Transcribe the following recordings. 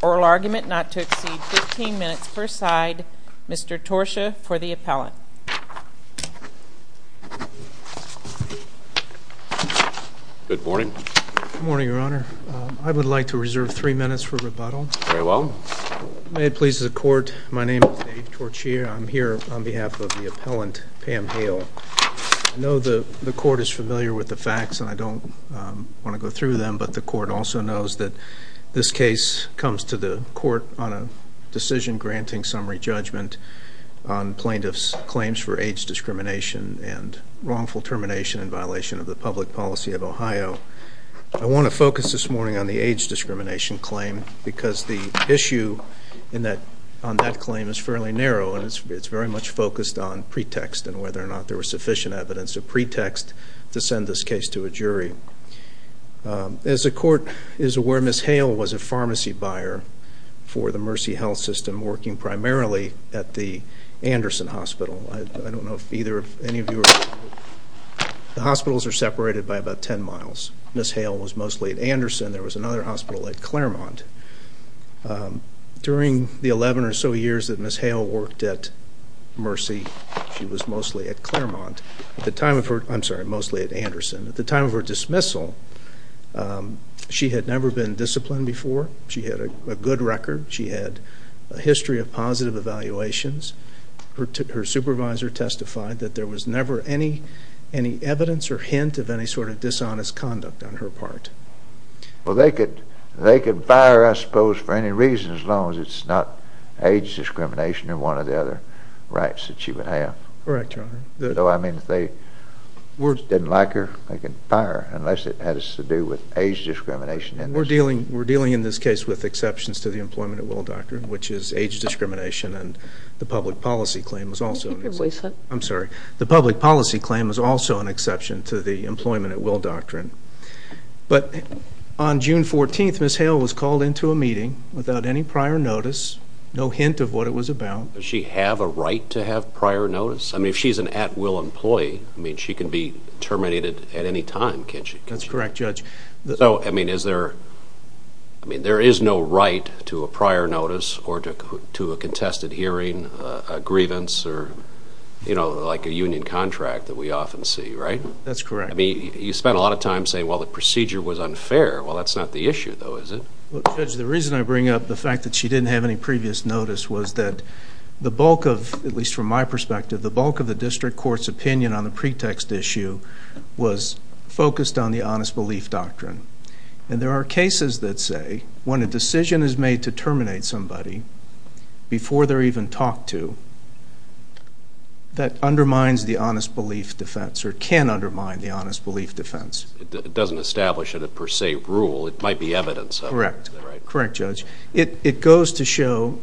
Oral argument not to exceed 15 minutes per side. Mr. Torsha for the appellant. Good morning. Good morning, Your Honor. I would like to reserve three minutes for rebuttal. Very well. May it please the Court, my name is Dave Torchier, and I am here on behalf of the appellant, Pam Hale. I know the Court is familiar with the facts, and I don't want to go through them, but the Court also knows that this case comes to the Court on a decision granting summary judgment on plaintiffs' claims for AIDS discrimination and wrongful termination in violation of the public policy of Ohio. I want to focus this morning on the AIDS discrimination claim because the Court is very much focused on pretext and whether or not there was sufficient evidence of pretext to send this case to a jury. As the Court is aware, Ms. Hale was a pharmacy buyer for the Mercy Health System, working primarily at the Anderson Hospital. I don't know if any of you are familiar. The hospitals are separated by about 10 miles. Ms. Hale was mostly at Anderson. There was another number or so years that Ms. Hale worked at Mercy. She was mostly at Claremont. At the time of her, I'm sorry, mostly at Anderson. At the time of her dismissal, she had never been disciplined before. She had a good record. She had a history of positive evaluations. Her supervisor testified that there was never any evidence or hint of any sort of dishonest conduct on her part. Well, they could fire her, I suppose, for any reason as long as it's not AIDS discrimination or one of the other rights that she would have. Correct, Your Honor. Though, I mean, if they didn't like her, they could fire her unless it had to do with AIDS discrimination. We're dealing in this case with exceptions to the Employment at Will Doctrine, which is AIDS discrimination and the public policy claim is also an exception. Keep your voice up. I'm sorry. The public policy claim is also an exception to the Employment at Will Doctrine. But on June 14th, Ms. Hale was called into a meeting without any prior notice, no hint of what it was about. Does she have a right to have prior notice? I mean, if she's an at-will employee, I mean, she can be terminated at any time, can't she? That's correct, Judge. So, I mean, is there, I mean, there is no right to a prior notice or to a contested hearing, a grievance, or, you know, like a union contract that we often see, right? That's correct. I mean, you spent a lot of time saying, well, the procedure was unfair. Well, that's not the issue, though, is it? Well, Judge, the reason I bring up the fact that she didn't have any previous notice was that the bulk of, at least from my perspective, the bulk of the district court's opinion on the pretext issue was focused on the honest belief doctrine. And there are cases that say when a decision is made to terminate somebody before they're even talked to, that undermines the honest belief defense or can undermine the honest belief defense. It doesn't establish a per se rule. It might be evidence of it. Correct. Correct, Judge. It goes to show,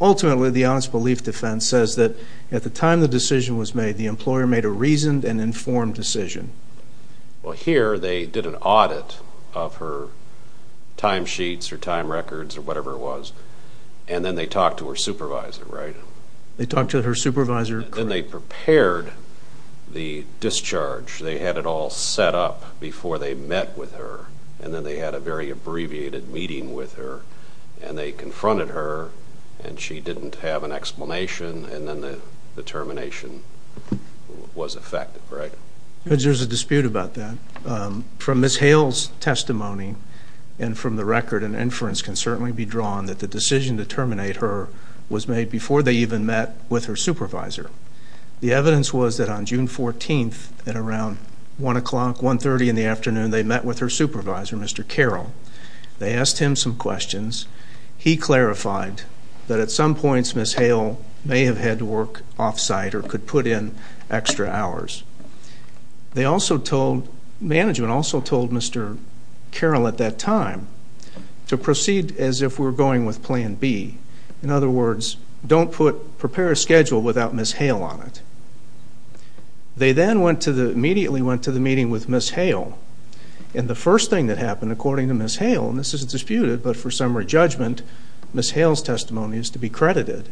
ultimately, the honest belief defense says that at the time the decision was made, the employer made a reasoned and informed decision. Well, here, they did an audit of her time sheets or time records or whatever it was, and then they talked to her supervisor, right? They talked to her supervisor. Then they prepared the discharge. They had it all set up before they met with her, and then they had a very abbreviated meeting with her, and they confronted her, and she didn't have an explanation, and then the termination was effective, right? Judge, there's a dispute about that. From Ms. Hale's testimony and from the record, an inference can certainly be drawn that the decision to terminate her was made before they even met with her supervisor. The evidence was that on June 14th at around 1 o'clock, 1.30 in the afternoon, they met with her supervisor, Mr. Carroll. They asked him some questions. He clarified that at some points Ms. Hale may have had to work off-site or could put in extra hours. Management also told Mr. Carroll at that time to proceed as if we were going with Plan B. In other words, don't prepare a schedule without Ms. Hale on it. They then immediately went to the meeting with Ms. Hale, and the first thing that happened, according to Ms. Hale, and this is disputed, but for summary judgment, Ms. Hale's testimony is to be credited.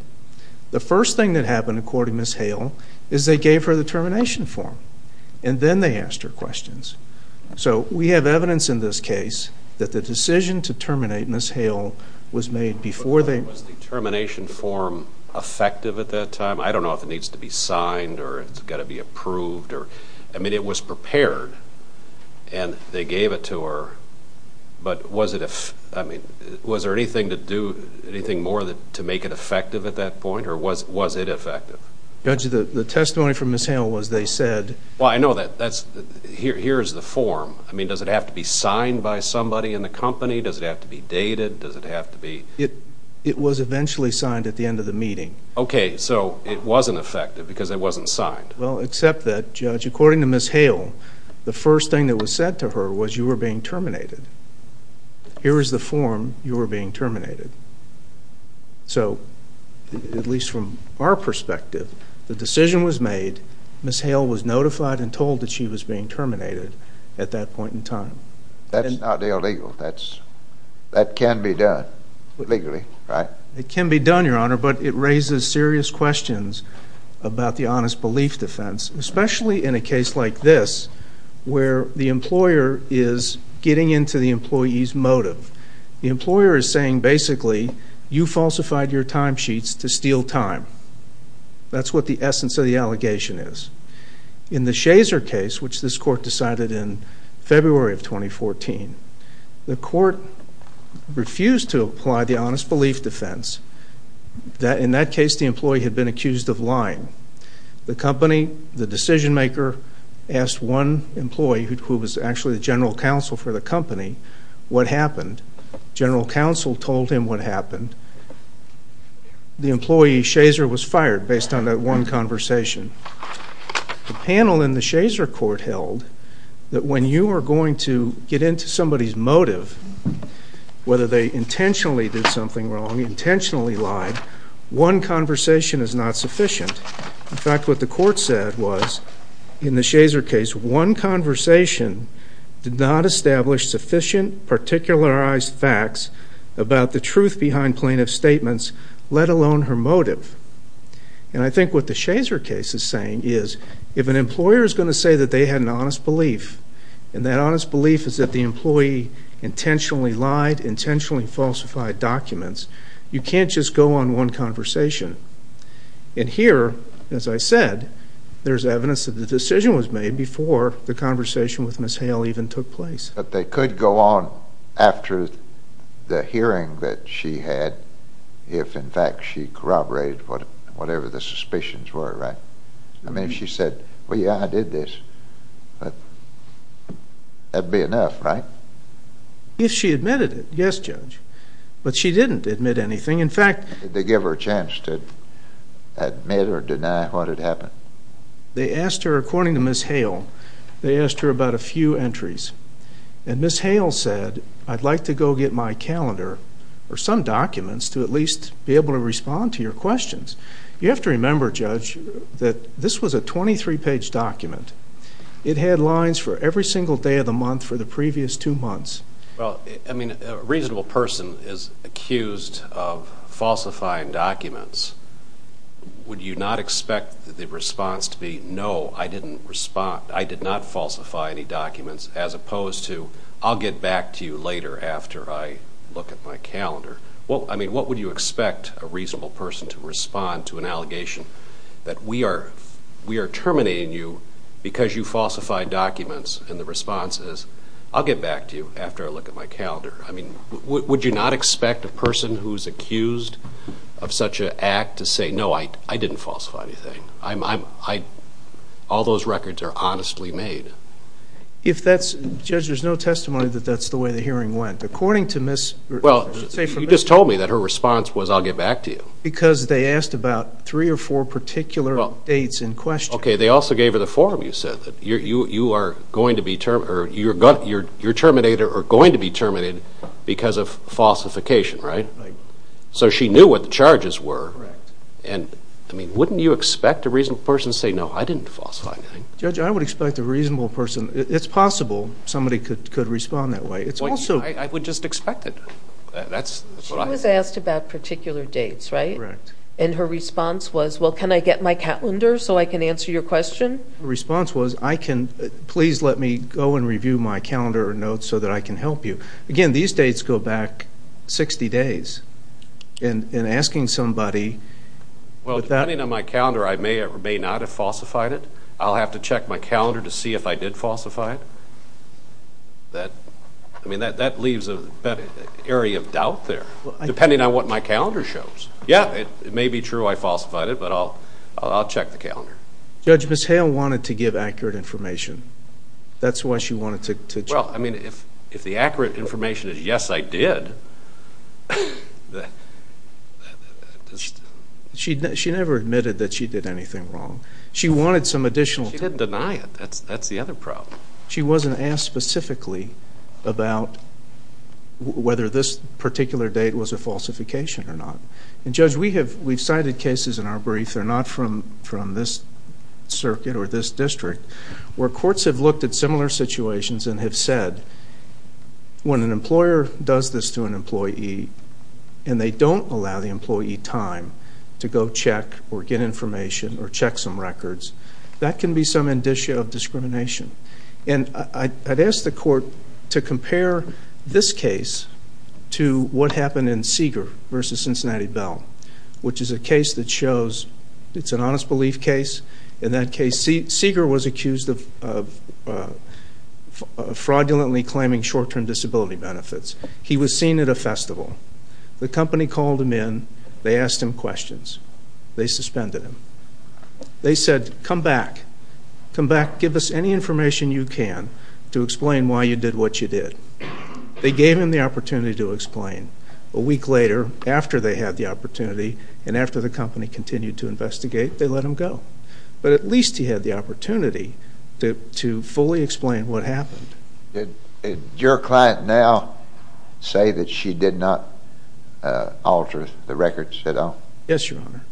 The first thing that happened, according to Ms. Hale, is they gave her the termination form, and then they asked her questions. So we have evidence in this case that the decision to terminate Ms. Hale was made before they... Was the termination form effective at that time? I don't know if it needs to be signed or it's got to be approved. I mean, it was prepared, and they gave it to her, but was there anything to do, anything more to make it effective at that point, or was it effective? Judge, the testimony from Ms. Hale was they said... Well, I know that. Here's the form. I mean, does it have to be signed by somebody in the company? Does it have to be dated? Does it have to be... It was eventually signed at the end of the meeting. Okay, so it wasn't effective because it wasn't signed. Well, except that, Judge, according to Ms. Hale, the first thing that was said to her was you were being terminated. Here is the form. You were being terminated. So, at least from our perspective, the decision was made. Ms. Hale was notified and told that she was being terminated at that point in time. That's not illegal. That can be done legally, right? It can be done, Your Honor, but it raises serious questions about the honest belief defense, especially in a case like this where the employer is getting into the employee's motive. The employer is saying, basically, you falsified your time sheets to steal time. That's what the essence of the allegation is. In the Shazer case, which this court decided in February of 2014, the court refused to apply the honest belief defense. In that case, the employee had been accused of lying. The company, the decision maker, asked one employee, who was actually the general counsel for the company, what happened. General counsel told him what happened. The employee, Shazer, was fired based on that one conversation. The panel in the Shazer court held that when you are going to get into somebody's motive, whether they intentionally did something wrong, intentionally lied, one conversation is not sufficient. In fact, what the court said was, in the Shazer case, one conversation did not establish sufficient particularized facts about the truth behind plaintiff's statements, let alone her motive. I think what the Shazer case is saying is, if an employer is going to say that they had an honest belief, and that honest belief is that the employee intentionally lied, intentionally falsified documents, you can't just go on one conversation. Here, as I said, there's evidence that the decision was made before the conversation with Ms. Hale even took place. But they could go on after the hearing that she had, if, in fact, she corroborated whatever the suspicions were, right? I mean, if she said, well, yeah, I did this, that would be enough, right? If she admitted it, yes, Judge, but she didn't admit anything. In fact, did they give her a chance to admit or deny what had happened? They asked her, according to Ms. Hale, they asked her about a few entries. And Ms. Hale said, I'd like to go get my calendar or some documents to at least be able to respond to your questions. You have to remember, Judge, that this was a 23-page document. It had lines for every single day of the month for the previous two months. Well, I mean, a reasonable person is accused of falsifying documents. Would you not expect the response to be, no, I did not falsify any documents, as opposed to, I'll get back to you later after I look at my calendar? I mean, what would you expect a reasonable person to respond to an allegation that we are terminating you because you falsified documents? And the response is, I'll get back to you after I look at my calendar. I mean, would you not expect a person who is accused of such an act to say, no, I didn't falsify anything, all those records are honestly made? If that's, Judge, there's no testimony that that's the way the hearing went. According to Ms. Hale. Well, you just told me that her response was, I'll get back to you. Because they asked about three or four particular dates in question. Okay, they also gave her the form, you said, you're terminator are going to be terminated because of falsification, right? Right. So she knew what the charges were. Correct. And, I mean, wouldn't you expect a reasonable person to say, no, I didn't falsify anything? Judge, I would expect a reasonable person, it's possible somebody could respond that way. I would just expect it. She was asked about particular dates, right? Correct. And her response was, well, can I get my calendar so I can answer your question? Her response was, please let me go and review my calendar or notes so that I can help you. Again, these dates go back 60 days. And asking somebody. Well, depending on my calendar, I may or may not have falsified it. I'll have to check my calendar to see if I did falsify it. I mean, that leaves an area of doubt there, depending on what my calendar shows. Yeah, it may be true I falsified it, but I'll check the calendar. Judge, Ms. Hale wanted to give accurate information. That's why she wanted to check. Well, I mean, if the accurate information is, yes, I did. She never admitted that she did anything wrong. She wanted some additional information. She didn't deny it. That's the other problem. She wasn't asked specifically about whether this particular date was a falsification or not. And, Judge, we've cited cases in our brief that are not from this circuit or this district where courts have looked at similar situations and have said when an employer does this to an employee and they don't allow the employee time to go check or get information or check some records, that can be some indicia of discrimination. And I'd ask the court to compare this case to what happened in Seeger v. Cincinnati Bell, which is a case that shows it's an honest belief case. In that case, Seeger was accused of fraudulently claiming short-term disability benefits. He was seen at a festival. The company called him in. They asked him questions. They suspended him. They said, come back. Come back. Give us any information you can to explain why you did what you did. They gave him the opportunity to explain. A week later, after they had the opportunity and after the company continued to investigate, they let him go. But at least he had the opportunity to fully explain what happened. Did your client now say that she did not alter the records at all? Yes, Your Honor.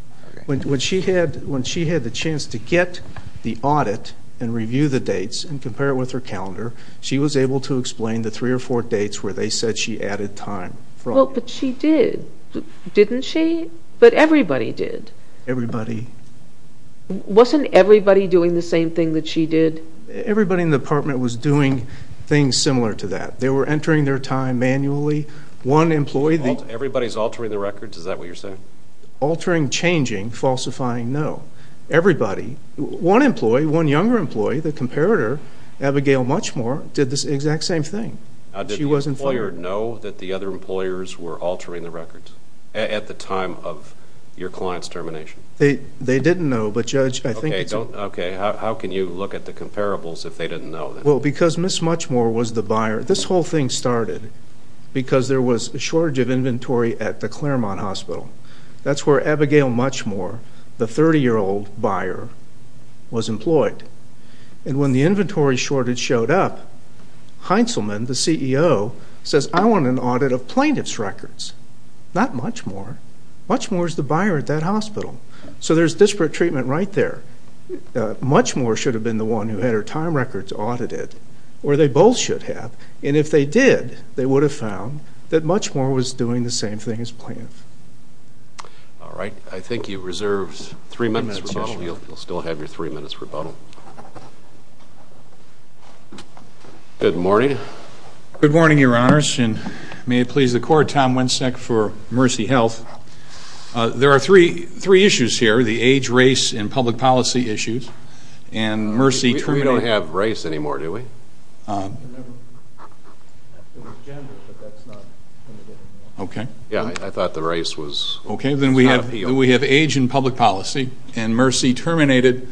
When she had the chance to get the audit and review the dates and compare it with her calendar, she was able to explain the three or four dates where they said she added time. But she did, didn't she? But everybody did. Everybody. Wasn't everybody doing the same thing that she did? Everybody in the department was doing things similar to that. They were entering their time manually. Everybody's altering the records? Is that what you're saying? Altering, changing, falsifying, no. Everybody. One employee, one younger employee, the comparator, Abigail Muchmore, did the exact same thing. Did the employer know that the other employers were altering the records at the time of your client's termination? They didn't know. Okay, how can you look at the comparables if they didn't know? Well, because Ms. Muchmore was the buyer. This whole thing started because there was a shortage of inventory at the Claremont Hospital. That's where Abigail Muchmore, the 30-year-old buyer, was employed. And when the inventory shortage showed up, Heintzelman, the CEO, says, I want an audit of plaintiff's records. Not Muchmore. Muchmore is the buyer at that hospital. So there's disparate treatment right there. Muchmore should have been the one who had her time records audited, or they both should have. And if they did, they would have found that Muchmore was doing the same thing as plaintiff. All right. I think you reserved three minutes for rebuttal. You'll still have your three minutes for rebuttal. Good morning. Good morning, Your Honors, and may it please the Court, Tom Wencek for Mercy Health. There are three issues here. The age, race, and public policy issues. We don't have race anymore, do we? Yeah, I thought the race was not appeal. Okay. Then we have age and public policy. And Mercy terminated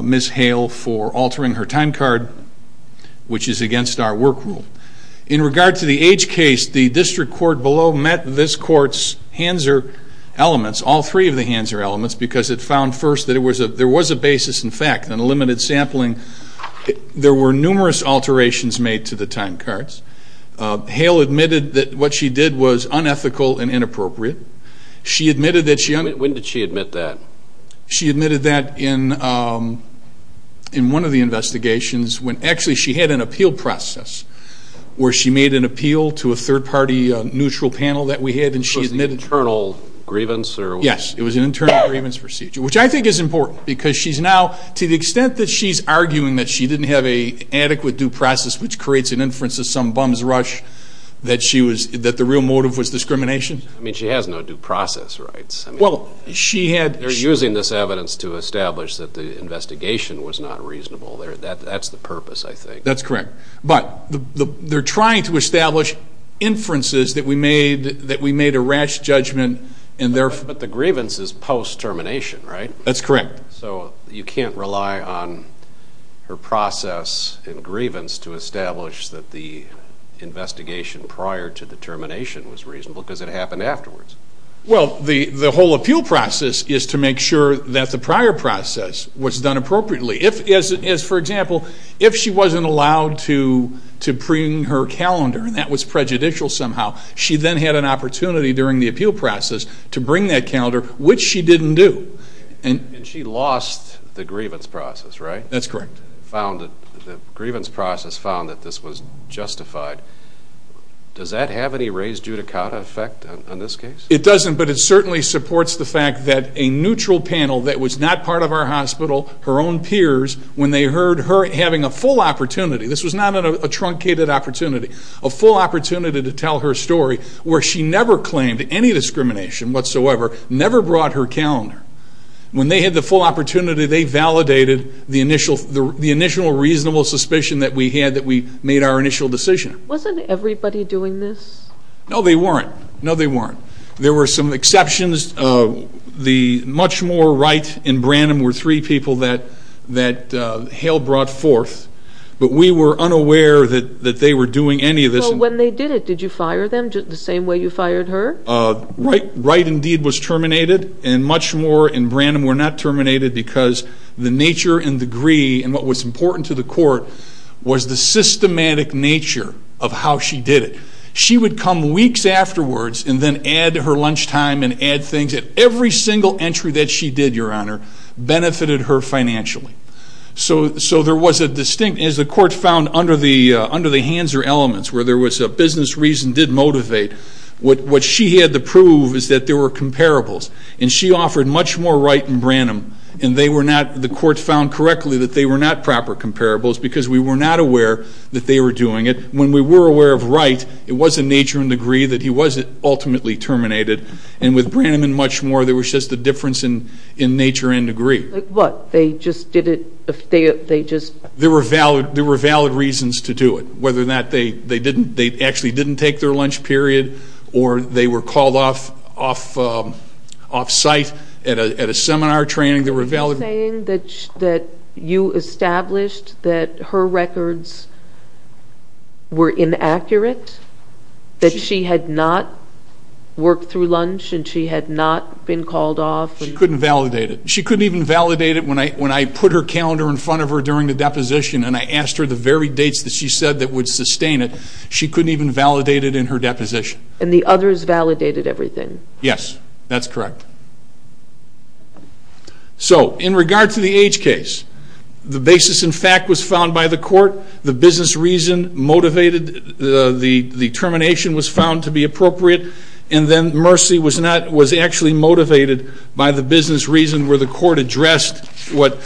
Ms. Hale for altering her time card, which is against our work rule. In regard to the age case, the district court below met this court's Hanzer elements, all three of the Hanzer elements, because it found first that there was a basis in fact, and a limited sampling. There were numerous alterations made to the time cards. Hale admitted that what she did was unethical and inappropriate. When did she admit that? She admitted that in one of the investigations when actually she had an appeal process where she made an appeal to a third-party neutral panel that we had, and she admitted Was it an internal grievance? Yes, it was an internal grievance procedure, which I think is important, because she's now, to the extent that she's arguing that she didn't have an adequate due process which creates an inference of some bum's rush, that the real motive was discrimination. I mean, she has no due process rights. Well, she had They're using this evidence to establish that the investigation was not reasonable. That's the purpose, I think. That's correct. But they're trying to establish inferences that we made a rash judgment, and therefore But the grievance is post-termination, right? That's correct. So you can't rely on her process and grievance to establish that the investigation prior to the termination was reasonable because it happened afterwards. Well, the whole appeal process is to make sure that the prior process was done appropriately. For example, if she wasn't allowed to bring her calendar, and that was prejudicial somehow, she then had an opportunity during the appeal process to bring that calendar, which she didn't do. And she lost the grievance process, right? That's correct. The grievance process found that this was justified. Does that have any raised judicata effect on this case? It doesn't, but it certainly supports the fact that a neutral panel that was not part of our hospital, her own peers, when they heard her having a full opportunity, this was not a truncated opportunity, a full opportunity to tell her story where she never claimed any discrimination whatsoever, never brought her calendar. When they had the full opportunity, they validated the initial reasonable suspicion that we had that we made our initial decision. Wasn't everybody doing this? No, they weren't. No, they weren't. There were some exceptions. Much more right in Branham were three people that Hale brought forth, but we were unaware that they were doing any of this. When they did it, did you fire them the same way you fired her? Right, indeed, was terminated, and much more in Branham were not terminated because the nature and degree, and what was important to the court, was the systematic nature of how she did it. She would come weeks afterwards and then add her lunchtime and add things, and every single entry that she did, Your Honor, benefited her financially. So there was a distinct, as the court found under the Hanser elements, where there was a business reason did motivate, what she had to prove is that there were comparables, and she offered much more right in Branham, and they were not, the court found correctly that they were not proper comparables because we were not aware that they were doing it. When we were aware of right, it was in nature and degree that he was ultimately terminated, and with Branham and much more, there was just a difference in nature and degree. What, they just did it, they just... There were valid reasons to do it, whether or not they actually didn't take their lunch period, or they were called off site at a seminar training, there were valid... Are you saying that you established that her records were inaccurate? That she had not worked through lunch and she had not been called off? She couldn't validate it. She couldn't even validate it when I put her calendar in front of her during the deposition and I asked her the very dates that she said that would sustain it, she couldn't even validate it in her deposition. And the others validated everything? Yes, that's correct. So, in regard to the H case, the basis in fact was found by the court, the business reason motivated the termination was found to be appropriate, and then Mercy was actually motivated by the business reason where the court addressed what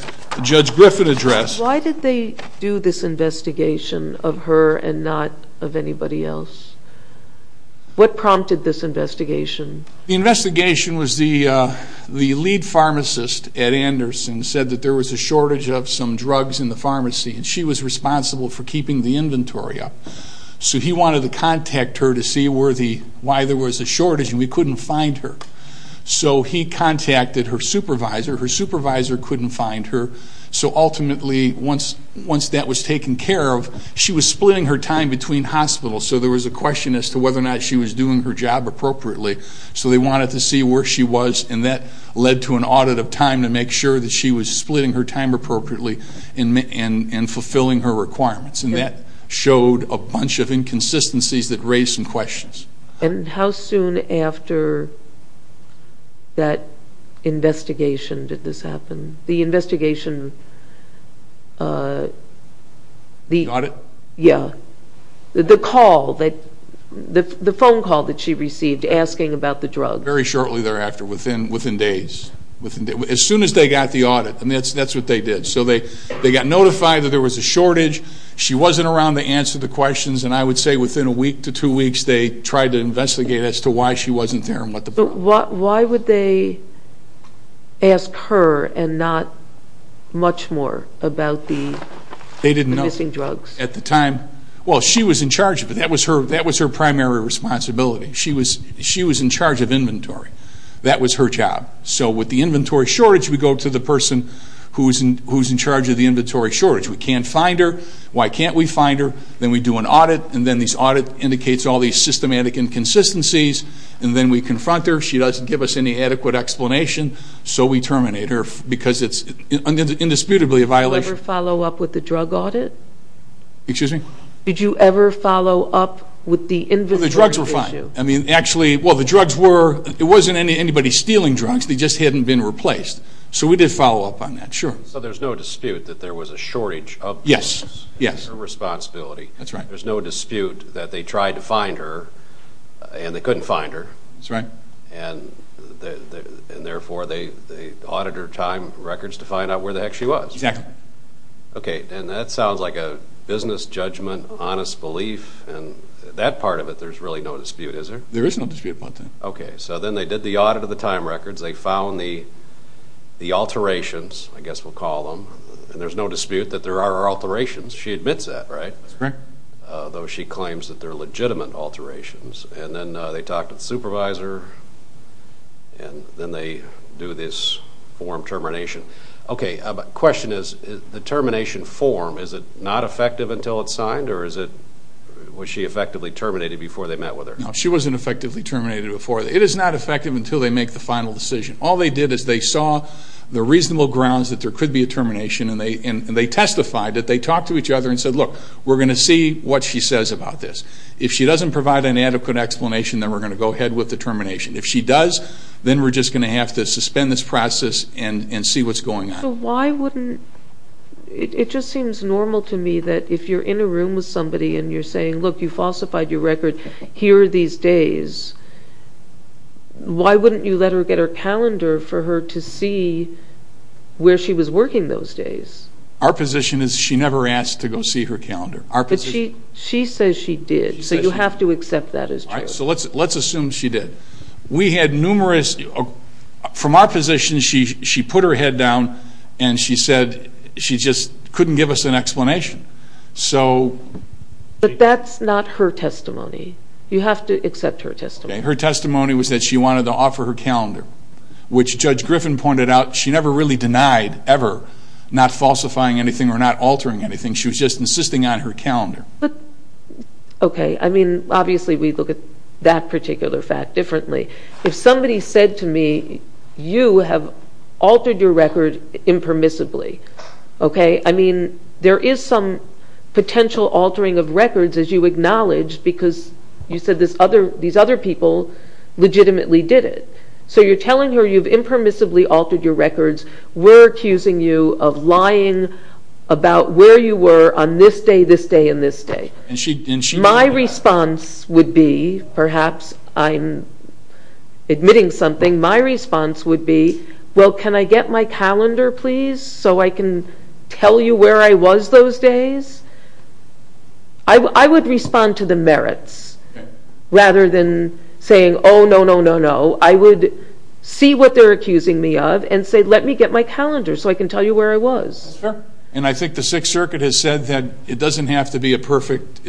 Judge Griffin addressed. Why did they do this investigation of her and not of anybody else? What prompted this investigation? The investigation was the lead pharmacist, Ed Anderson, said that there was a shortage of some drugs in the pharmacy and she was responsible for keeping the inventory up. So he wanted to contact her to see why there was a shortage and we couldn't find her. So he contacted her supervisor, her supervisor couldn't find her, so ultimately once that was taken care of, she was splitting her time between hospitals, so there was a question as to whether or not she was doing her job appropriately. So they wanted to see where she was and that led to an audit of time to make sure that she was splitting her time appropriately and fulfilling her requirements. And that showed a bunch of inconsistencies that raised some questions. And how soon after that investigation did this happen? The investigation... The audit? Yeah. The call, the phone call that she received asking about the drug. Very shortly thereafter, within days. As soon as they got the audit, that's what they did. So they got notified that there was a shortage, she wasn't around to answer the questions, and I would say within a week to two weeks they tried to investigate as to why she wasn't there and what the problem was. But why would they ask her and not much more about the missing drugs? Well, she was in charge of it. That was her primary responsibility. She was in charge of inventory. That was her job. So with the inventory shortage, we go to the person who's in charge of the inventory shortage. We can't find her. Why can't we find her? Then we do an audit, and then this audit indicates all these systematic inconsistencies, and then we confront her. She doesn't give us any adequate explanation, so we terminate her because it's indisputably a violation. Did you ever follow up with the drug audit? Excuse me? Did you ever follow up with the inventory issue? The drugs were fine. I mean, actually, well, the drugs were. It wasn't anybody stealing drugs. They just hadn't been replaced. So we did follow up on that, sure. So there's no dispute that there was a shortage of drugs. Yes, yes. It was her responsibility. That's right. There's no dispute that they tried to find her, and they couldn't find her. That's right. And therefore, they audited her time records to find out where the heck she was. Exactly. Okay, and that sounds like a business judgment, honest belief, and that part of it there's really no dispute, is there? There is no dispute about that. Okay, so then they did the audit of the time records. They found the alterations, I guess we'll call them, and there's no dispute that there are alterations. She admits that, right? That's correct. Though she claims that they're legitimate alterations. And then they talk to the supervisor, and then they do this form termination. Okay, question is, the termination form, is it not effective until it's signed, or was she effectively terminated before they met with her? No, she wasn't effectively terminated before. It is not effective until they make the final decision. All they did is they saw the reasonable grounds that there could be a termination, and they testified that they talked to each other and said, look, we're going to see what she says about this. If she doesn't provide an adequate explanation, then we're going to go ahead with the termination. If she does, then we're just going to have to suspend this process and see what's going on. So why wouldn't, it just seems normal to me that if you're in a room with somebody and you're saying, look, you falsified your record here these days, why wouldn't you let her get her calendar for her to see where she was working those days? Our position is she never asked to go see her calendar. But she says she did, so you have to accept that as true. So let's assume she did. We had numerous, from our position, she put her head down and she said she just couldn't give us an explanation. But that's not her testimony. You have to accept her testimony. Her testimony was that she wanted to offer her calendar, which Judge Griffin pointed out she never really denied ever, not falsifying anything or not altering anything. She was just insisting on her calendar. Okay, I mean, obviously we look at that particular fact differently. If somebody said to me, you have altered your record impermissibly, okay, I mean, there is some potential altering of records as you acknowledge because you said these other people legitimately did it. So you're telling her you've impermissibly altered your records. We're accusing you of lying about where you were on this day, this day, and this day. My response would be, perhaps I'm admitting something, my response would be, well, can I get my calendar, please, so I can tell you where I was those days? I would respond to the merits rather than saying, oh, no, no, no, no. I would see what they're accusing me of and say, let me get my calendar so I can tell you where I was. And I think the Sixth Circuit has said that it doesn't have to be a perfect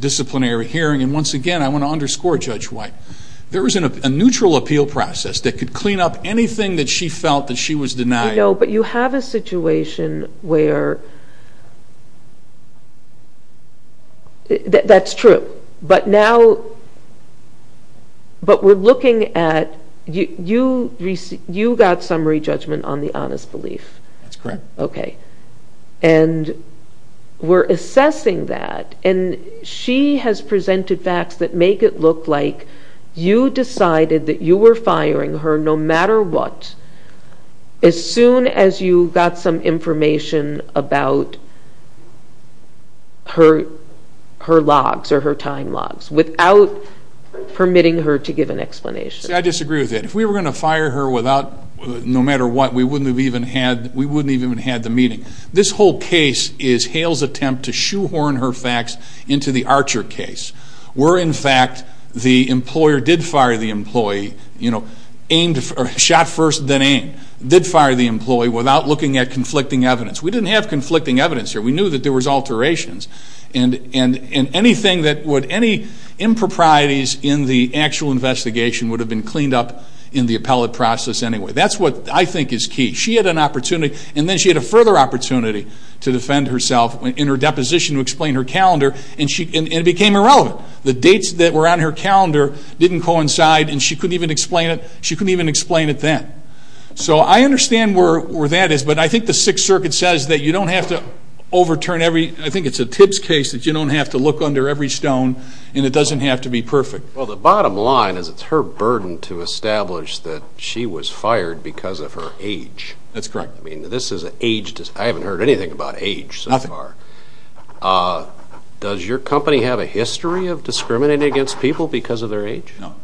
disciplinary hearing, and once again, I want to underscore Judge White. There was a neutral appeal process that could clean up anything that she felt that she was denying. But you have a situation where that's true, but now we're looking at you got summary judgment on the honest belief. That's correct. Okay, and we're assessing that, and she has presented facts that make it look like you decided that you were firing her no matter what as soon as you got some information about her logs or her time logs, without permitting her to give an explanation. See, I disagree with that. If we were going to fire her no matter what, we wouldn't even have had the meeting. This whole case is Hale's attempt to shoehorn her facts into the Archer case, where, in fact, the employer did fire the employee, shot first then aim, did fire the employee without looking at conflicting evidence. We didn't have conflicting evidence here. We knew that there was alterations. And any improprieties in the actual investigation would have been cleaned up in the appellate process anyway. That's what I think is key. She had an opportunity, and then she had a further opportunity to defend herself in her deposition to explain her calendar, and it became irrelevant. The dates that were on her calendar didn't coincide, and she couldn't even explain it then. So I understand where that is, but I think the Sixth Circuit says that you don't have to overturn every – I think it's a Tibbs case that you don't have to look under every stone, and it doesn't have to be perfect. Well, the bottom line is it's her burden to establish that she was fired because of her age. That's correct. I mean, this is an age – I haven't heard anything about age so far. Nothing. Does your company have a history of discriminating against people because of their age? No.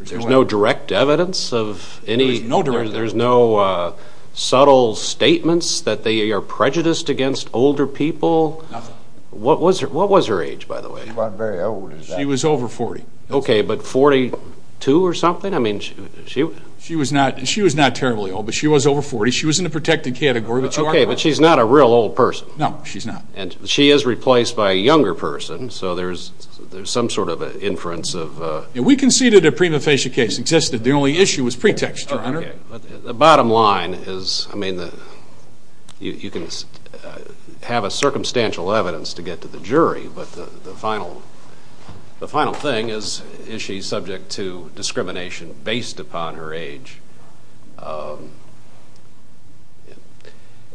There's no direct evidence of any – There's no direct evidence. There's no subtle statements that they are prejudiced against older people? Nothing. What was her age, by the way? She wasn't very old. She was over 40. Okay, but 42 or something? She was not terribly old, but she was over 40. She was in the protected category. Okay, but she's not a real old person. No, she's not. She is replaced by a younger person, so there's some sort of an inference of – We conceded a prima facie case existed. The only issue was pretext, Your Honor. The bottom line is, I mean, you can have a circumstantial evidence to get to the jury, but the final thing is, is she subject to discrimination based upon her age?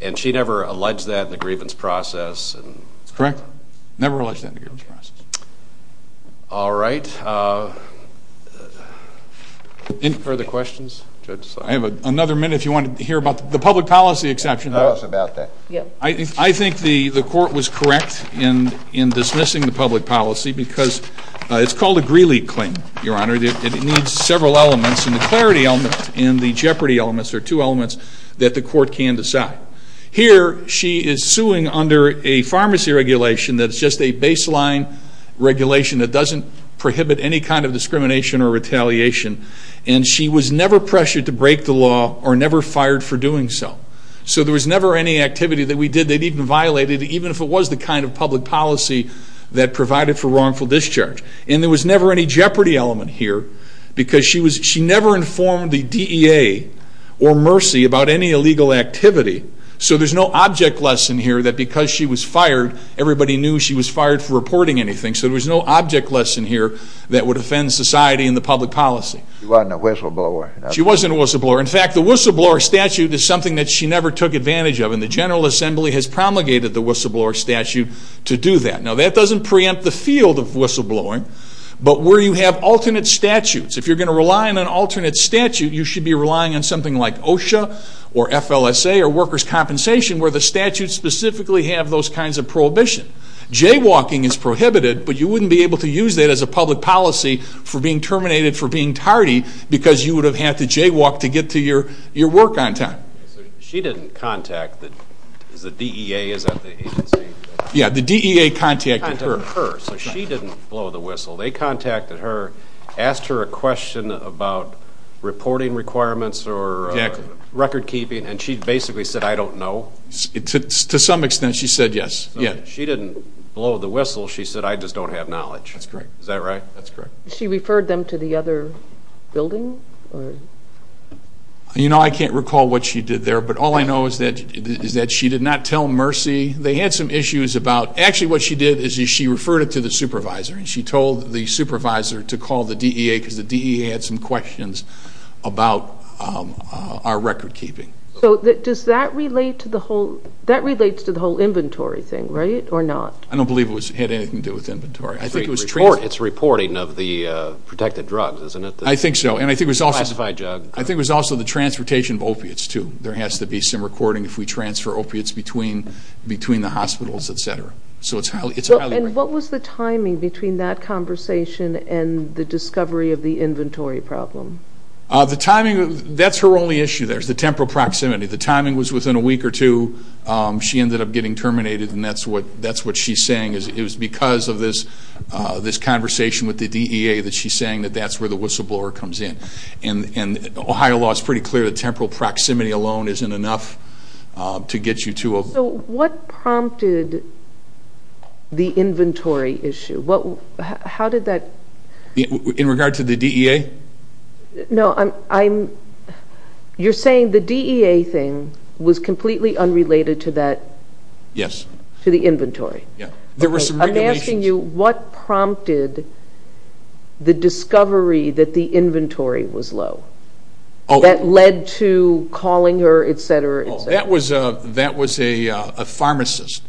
And she never alleged that in the grievance process? That's correct. Never alleged that in the grievance process. All right. Any further questions? I have another minute if you want to hear about the public policy exception. Tell us about that. I think the court was correct in dismissing the public policy because it's called a Greeley claim, Your Honor. It needs several elements, and the clarity element and the jeopardy elements are two elements that the court can decide. Here, she is suing under a pharmacy regulation that's just a baseline regulation that doesn't prohibit any kind of discrimination or retaliation, and she was never pressured to break the law or never fired for doing so. So there was never any activity that we did that even violated, even if it was the kind of public policy that provided for wrongful discharge. And there was never any jeopardy element here because she never informed the DEA or Mercy about any illegal activity. So there's no object lesson here that because she was fired, everybody knew she was fired for reporting anything. So there was no object lesson here that would offend society and the public policy. She wasn't a whistleblower. She wasn't a whistleblower. In fact, the whistleblower statute is something that she never took advantage of, and the General Assembly has promulgated the whistleblower statute to do that. Now, that doesn't preempt the field of whistleblowing, but where you have alternate statutes. If you're going to rely on an alternate statute, you should be relying on something like OSHA or FLSA or workers' compensation where the statutes specifically have those kinds of prohibition. Jaywalking is prohibited, but you wouldn't be able to use that as a public policy for being terminated for being tardy because you would have had to jaywalk to get to your work on time. She didn't contact the DEA, is that the agency? Yeah, the DEA contacted her. So she didn't blow the whistle. They contacted her, asked her a question about reporting requirements or recordkeeping, and she basically said, I don't know. To some extent, she said yes. She didn't blow the whistle. She said, I just don't have knowledge. That's correct. Is that right? That's correct. She referred them to the other building? You know, I can't recall what she did there, but all I know is that she did not tell Mercy. They had some issues about actually what she did is she referred it to the supervisor, and she told the supervisor to call the DEA because the DEA had some questions about our recordkeeping. So does that relate to the whole inventory thing, right, or not? It's reporting of the protected drugs, isn't it? I think so, and I think it was also the transportation of opiates, too. There has to be some recording if we transfer opiates between the hospitals, et cetera. And what was the timing between that conversation and the discovery of the inventory problem? The timing, that's her only issue there is the temporal proximity. The timing was within a week or two, she ended up getting terminated, and that's what she's saying is it was because of this conversation with the DEA that she's saying that that's where the whistleblower comes in. And Ohio law is pretty clear that temporal proximity alone isn't enough to get you to a... So what prompted the inventory issue? How did that... In regard to the DEA? No, you're saying the DEA thing was completely unrelated to that... Yes. To the inventory? Yeah. I'm asking you what prompted the discovery that the inventory was low? That led to calling her, et cetera, et cetera. That was a pharmacist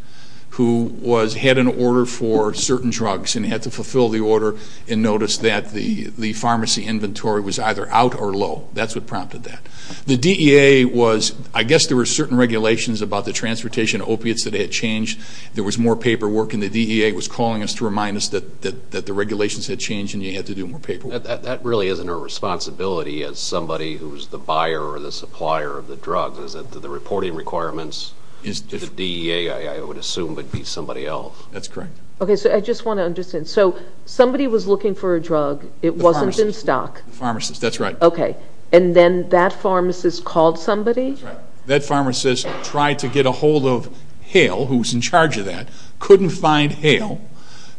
who had an order for certain drugs and had to fulfill the order and notice that the pharmacy inventory was either out or low. That's what prompted that. The DEA was... I guess there were certain regulations about the transportation of opiates that had changed. There was more paperwork, and the DEA was calling us to remind us that the regulations had changed and you had to do more paperwork. That really isn't her responsibility as somebody who's the buyer or the supplier of the drugs, is it, the reporting requirements? The DEA, I would assume, would be somebody else. That's correct. Okay, so I just want to understand. So somebody was looking for a drug. It wasn't in stock. The pharmacist. The pharmacist, that's right. Okay, and then that pharmacist called somebody? That's right. That pharmacist tried to get a hold of Hale, who was in charge of that, couldn't find Hale,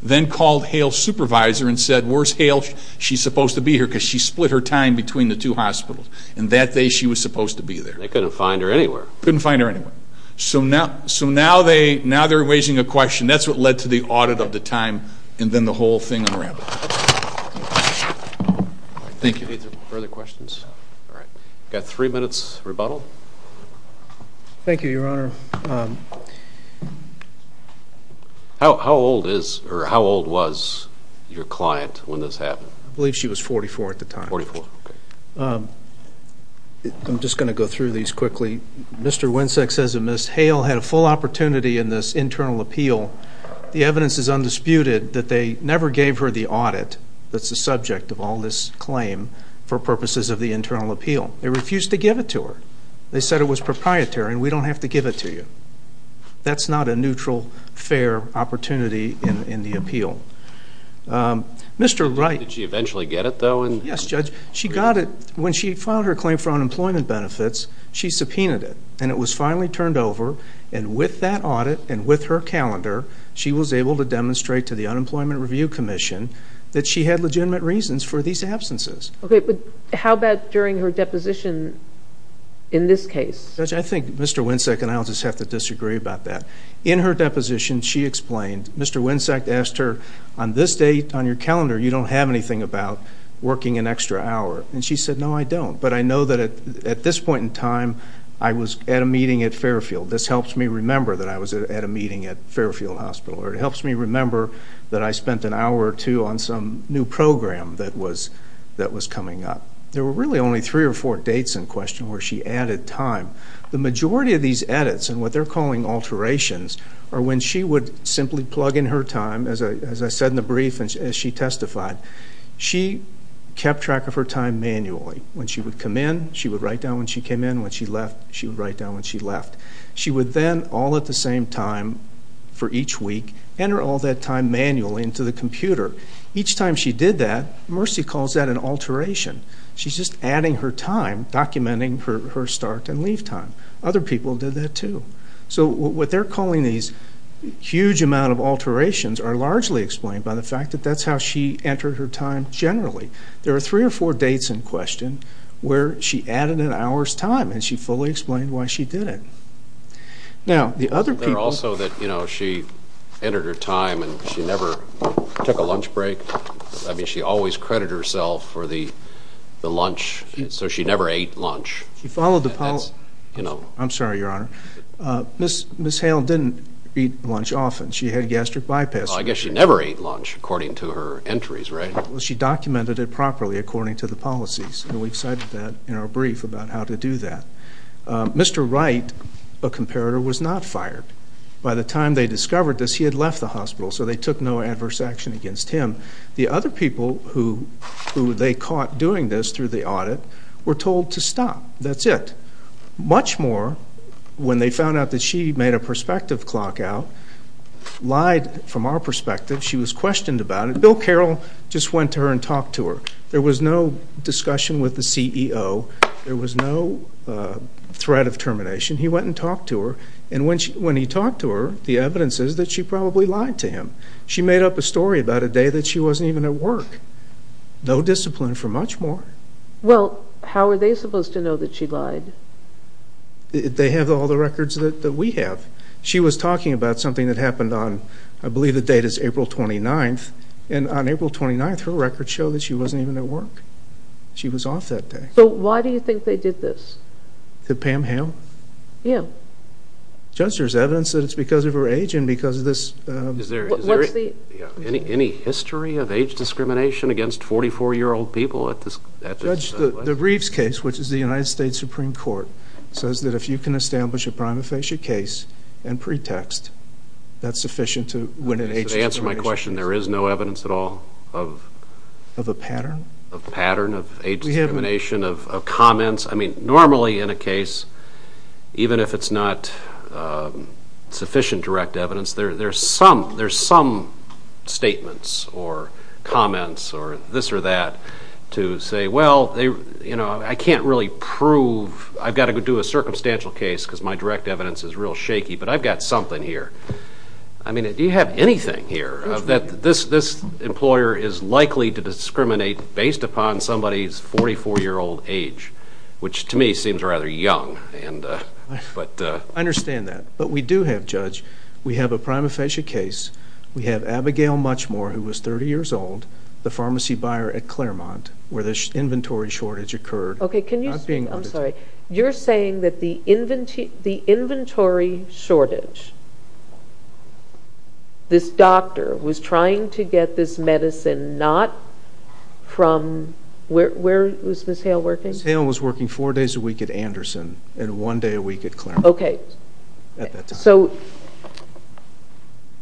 then called Hale's supervisor and said, where's Hale? She's supposed to be here because she split her time between the two hospitals. And that day she was supposed to be there. They couldn't find her anywhere. Couldn't find her anywhere. So now they're raising a question. That's what led to the audit of the time and then the whole thing unraveled. Thank you. Any further questions? All right. We've got three minutes rebuttal. Thank you, Your Honor. How old is or how old was your client when this happened? I believe she was 44 at the time. 44, okay. I'm just going to go through these quickly. Mr. Winsak says that Ms. Hale had a full opportunity in this internal appeal. The evidence is undisputed that they never gave her the audit that's the subject of all this claim for purposes of the internal appeal. They refused to give it to her. They said it was proprietary and we don't have to give it to you. That's not a neutral, fair opportunity in the appeal. Did she eventually get it, though? Yes, Judge. When she filed her claim for unemployment benefits, she subpoenaed it, and it was finally turned over, and with that audit and with her calendar, she was able to demonstrate to the Unemployment Review Commission that she had legitimate reasons for these absences. Okay, but how about during her deposition in this case? Judge, I think Mr. Winsak and I will just have to disagree about that. In her deposition, she explained Mr. Winsak asked her, on this date on your calendar you don't have anything about working an extra hour. And she said, no, I don't. But I know that at this point in time I was at a meeting at Fairfield. This helps me remember that I was at a meeting at Fairfield Hospital, or it helps me remember that I spent an hour or two on some new program that was coming up. There were really only three or four dates in question where she added time. The majority of these edits, and what they're calling alterations, are when she would simply plug in her time, as I said in the brief, as she testified. She kept track of her time manually. When she would come in, she would write down when she came in. When she left, she would write down when she left. She would then, all at the same time for each week, enter all that time manually into the computer. Each time she did that, Mercy calls that an alteration. She's just adding her time, documenting her start and leave time. Other people did that too. So what they're calling these huge amount of alterations are largely explained by the fact that that's how she entered her time generally. There are three or four dates in question where she added an hour's time, and she fully explained why she did it. There are also that she entered her time and she never took a lunch break. I mean, she always credited herself for the lunch, so she never ate lunch. I'm sorry, Your Honor. Ms. Hale didn't eat lunch often. She had gastric bypass surgery. I guess she never ate lunch according to her entries, right? She documented it properly according to the policies, and we've cited that in our brief about how to do that. Mr. Wright, a comparator, was not fired. By the time they discovered this, he had left the hospital, so they took no adverse action against him. The other people who they caught doing this through the audit were told to stop. That's it. Much more, when they found out that she made a perspective clock out, lied from our perspective. She was questioned about it. Bill Carroll just went to her and talked to her. There was no discussion with the CEO. There was no threat of termination. He went and talked to her, and when he talked to her, the evidence is that she probably lied to him. She made up a story about a day that she wasn't even at work. No discipline for much more. Well, how are they supposed to know that she lied? They have all the records that we have. She was talking about something that happened on, I believe the date is April 29th, and on April 29th, her records show that she wasn't even at work. She was off that day. So why do you think they did this? Did Pam hail? Yeah. Just there's evidence that it's because of her age and because of this. Any history of age discrimination against 44-year-old people? Judge, the Reeves case, which is the United States Supreme Court, says that if you can establish a prima facie case and pretext, that's sufficient to win an age determination. To answer my question, there is no evidence at all of a pattern of age discrimination, of comments. I mean, normally in a case, even if it's not sufficient direct evidence, there's some statements or comments or this or that to say, well, I can't really prove I've got to do a circumstantial case because my direct evidence is real shaky, but I've got something here. I mean, do you have anything here that this employer is likely to discriminate based upon somebody's 44-year-old age, which to me seems rather young? I understand that. But we do have, Judge, we have a prima facie case. We have Abigail Muchmore, who was 30 years old, the pharmacy buyer at Claremont, where the inventory shortage occurred. Okay, can you speak? I'm sorry. You're saying that the inventory shortage, this doctor was trying to get this medicine not from where? Was Ms. Hale working? Ms. Hale was working four days a week at Anderson and one day a week at Claremont. Okay. At that time. So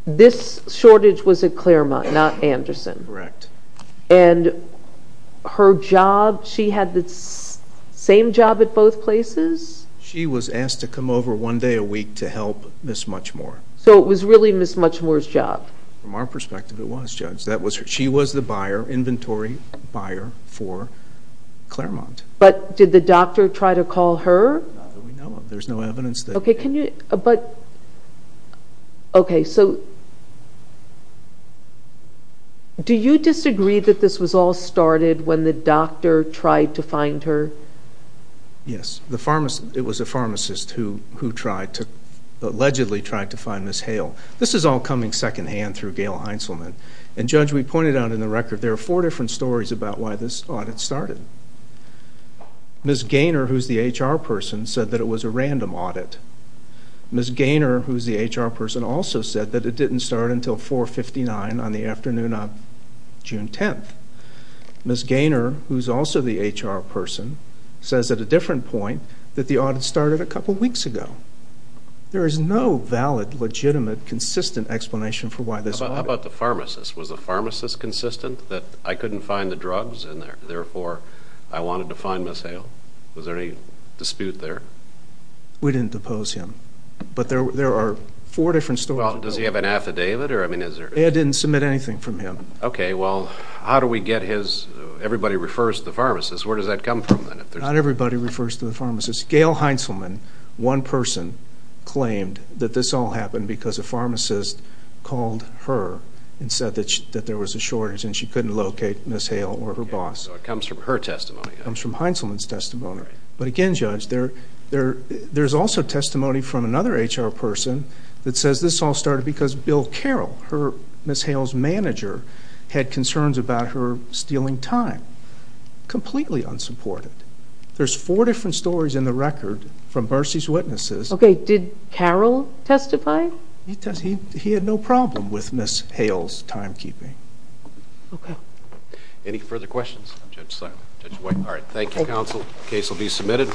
this shortage was at Claremont, not Anderson. Correct. And her job, she had the same job at both places? She was asked to come over one day a week to help Ms. Muchmore. So it was really Ms. Muchmore's job? From our perspective, it was, Judge. She was the buyer, inventory buyer for Claremont. But did the doctor try to call her? Not that we know of. There's no evidence. Okay, so do you disagree that this was all started when the doctor tried to find her? Yes. It was a pharmacist who allegedly tried to find Ms. Hale. This is all coming secondhand through Gail Heinzelman. And, Judge, we pointed out in the record there are four different stories about why this audit started. Ms. Gaynor, who's the HR person, said that it was a random audit. Ms. Gaynor, who's the HR person, also said that it didn't start until 4.59 on the afternoon of June 10th. Ms. Gaynor, who's also the HR person, says at a different point that the audit started a couple weeks ago. There is no valid, legitimate, consistent explanation for why this audit. How about the pharmacist? Was the pharmacist consistent that I couldn't find the drugs and, therefore, I wanted to find Ms. Hale? Was there any dispute there? We didn't depose him. But there are four different stories. Does he have an affidavit? Ed didn't submit anything from him. Okay, well, how do we get his? Everybody refers to the pharmacist. Where does that come from, then? Not everybody refers to the pharmacist. Gail Heintzelman, one person, claimed that this all happened because a pharmacist called her and said that there was a shortage and she couldn't locate Ms. Hale or her boss. It comes from her testimony. It comes from Heintzelman's testimony. But, again, Judge, there's also testimony from another HR person that says this all started because Bill Carroll, Ms. Hale's manager, had concerns about her stealing time. Completely unsupported. There's four different stories in the record from Mercy's witnesses. Okay, did Carroll testify? He testified. He had no problem with Ms. Hale's timekeeping. Okay. Any further questions? I'm Judge Simon. Judge White. All right, thank you, counsel. The case will be submitted.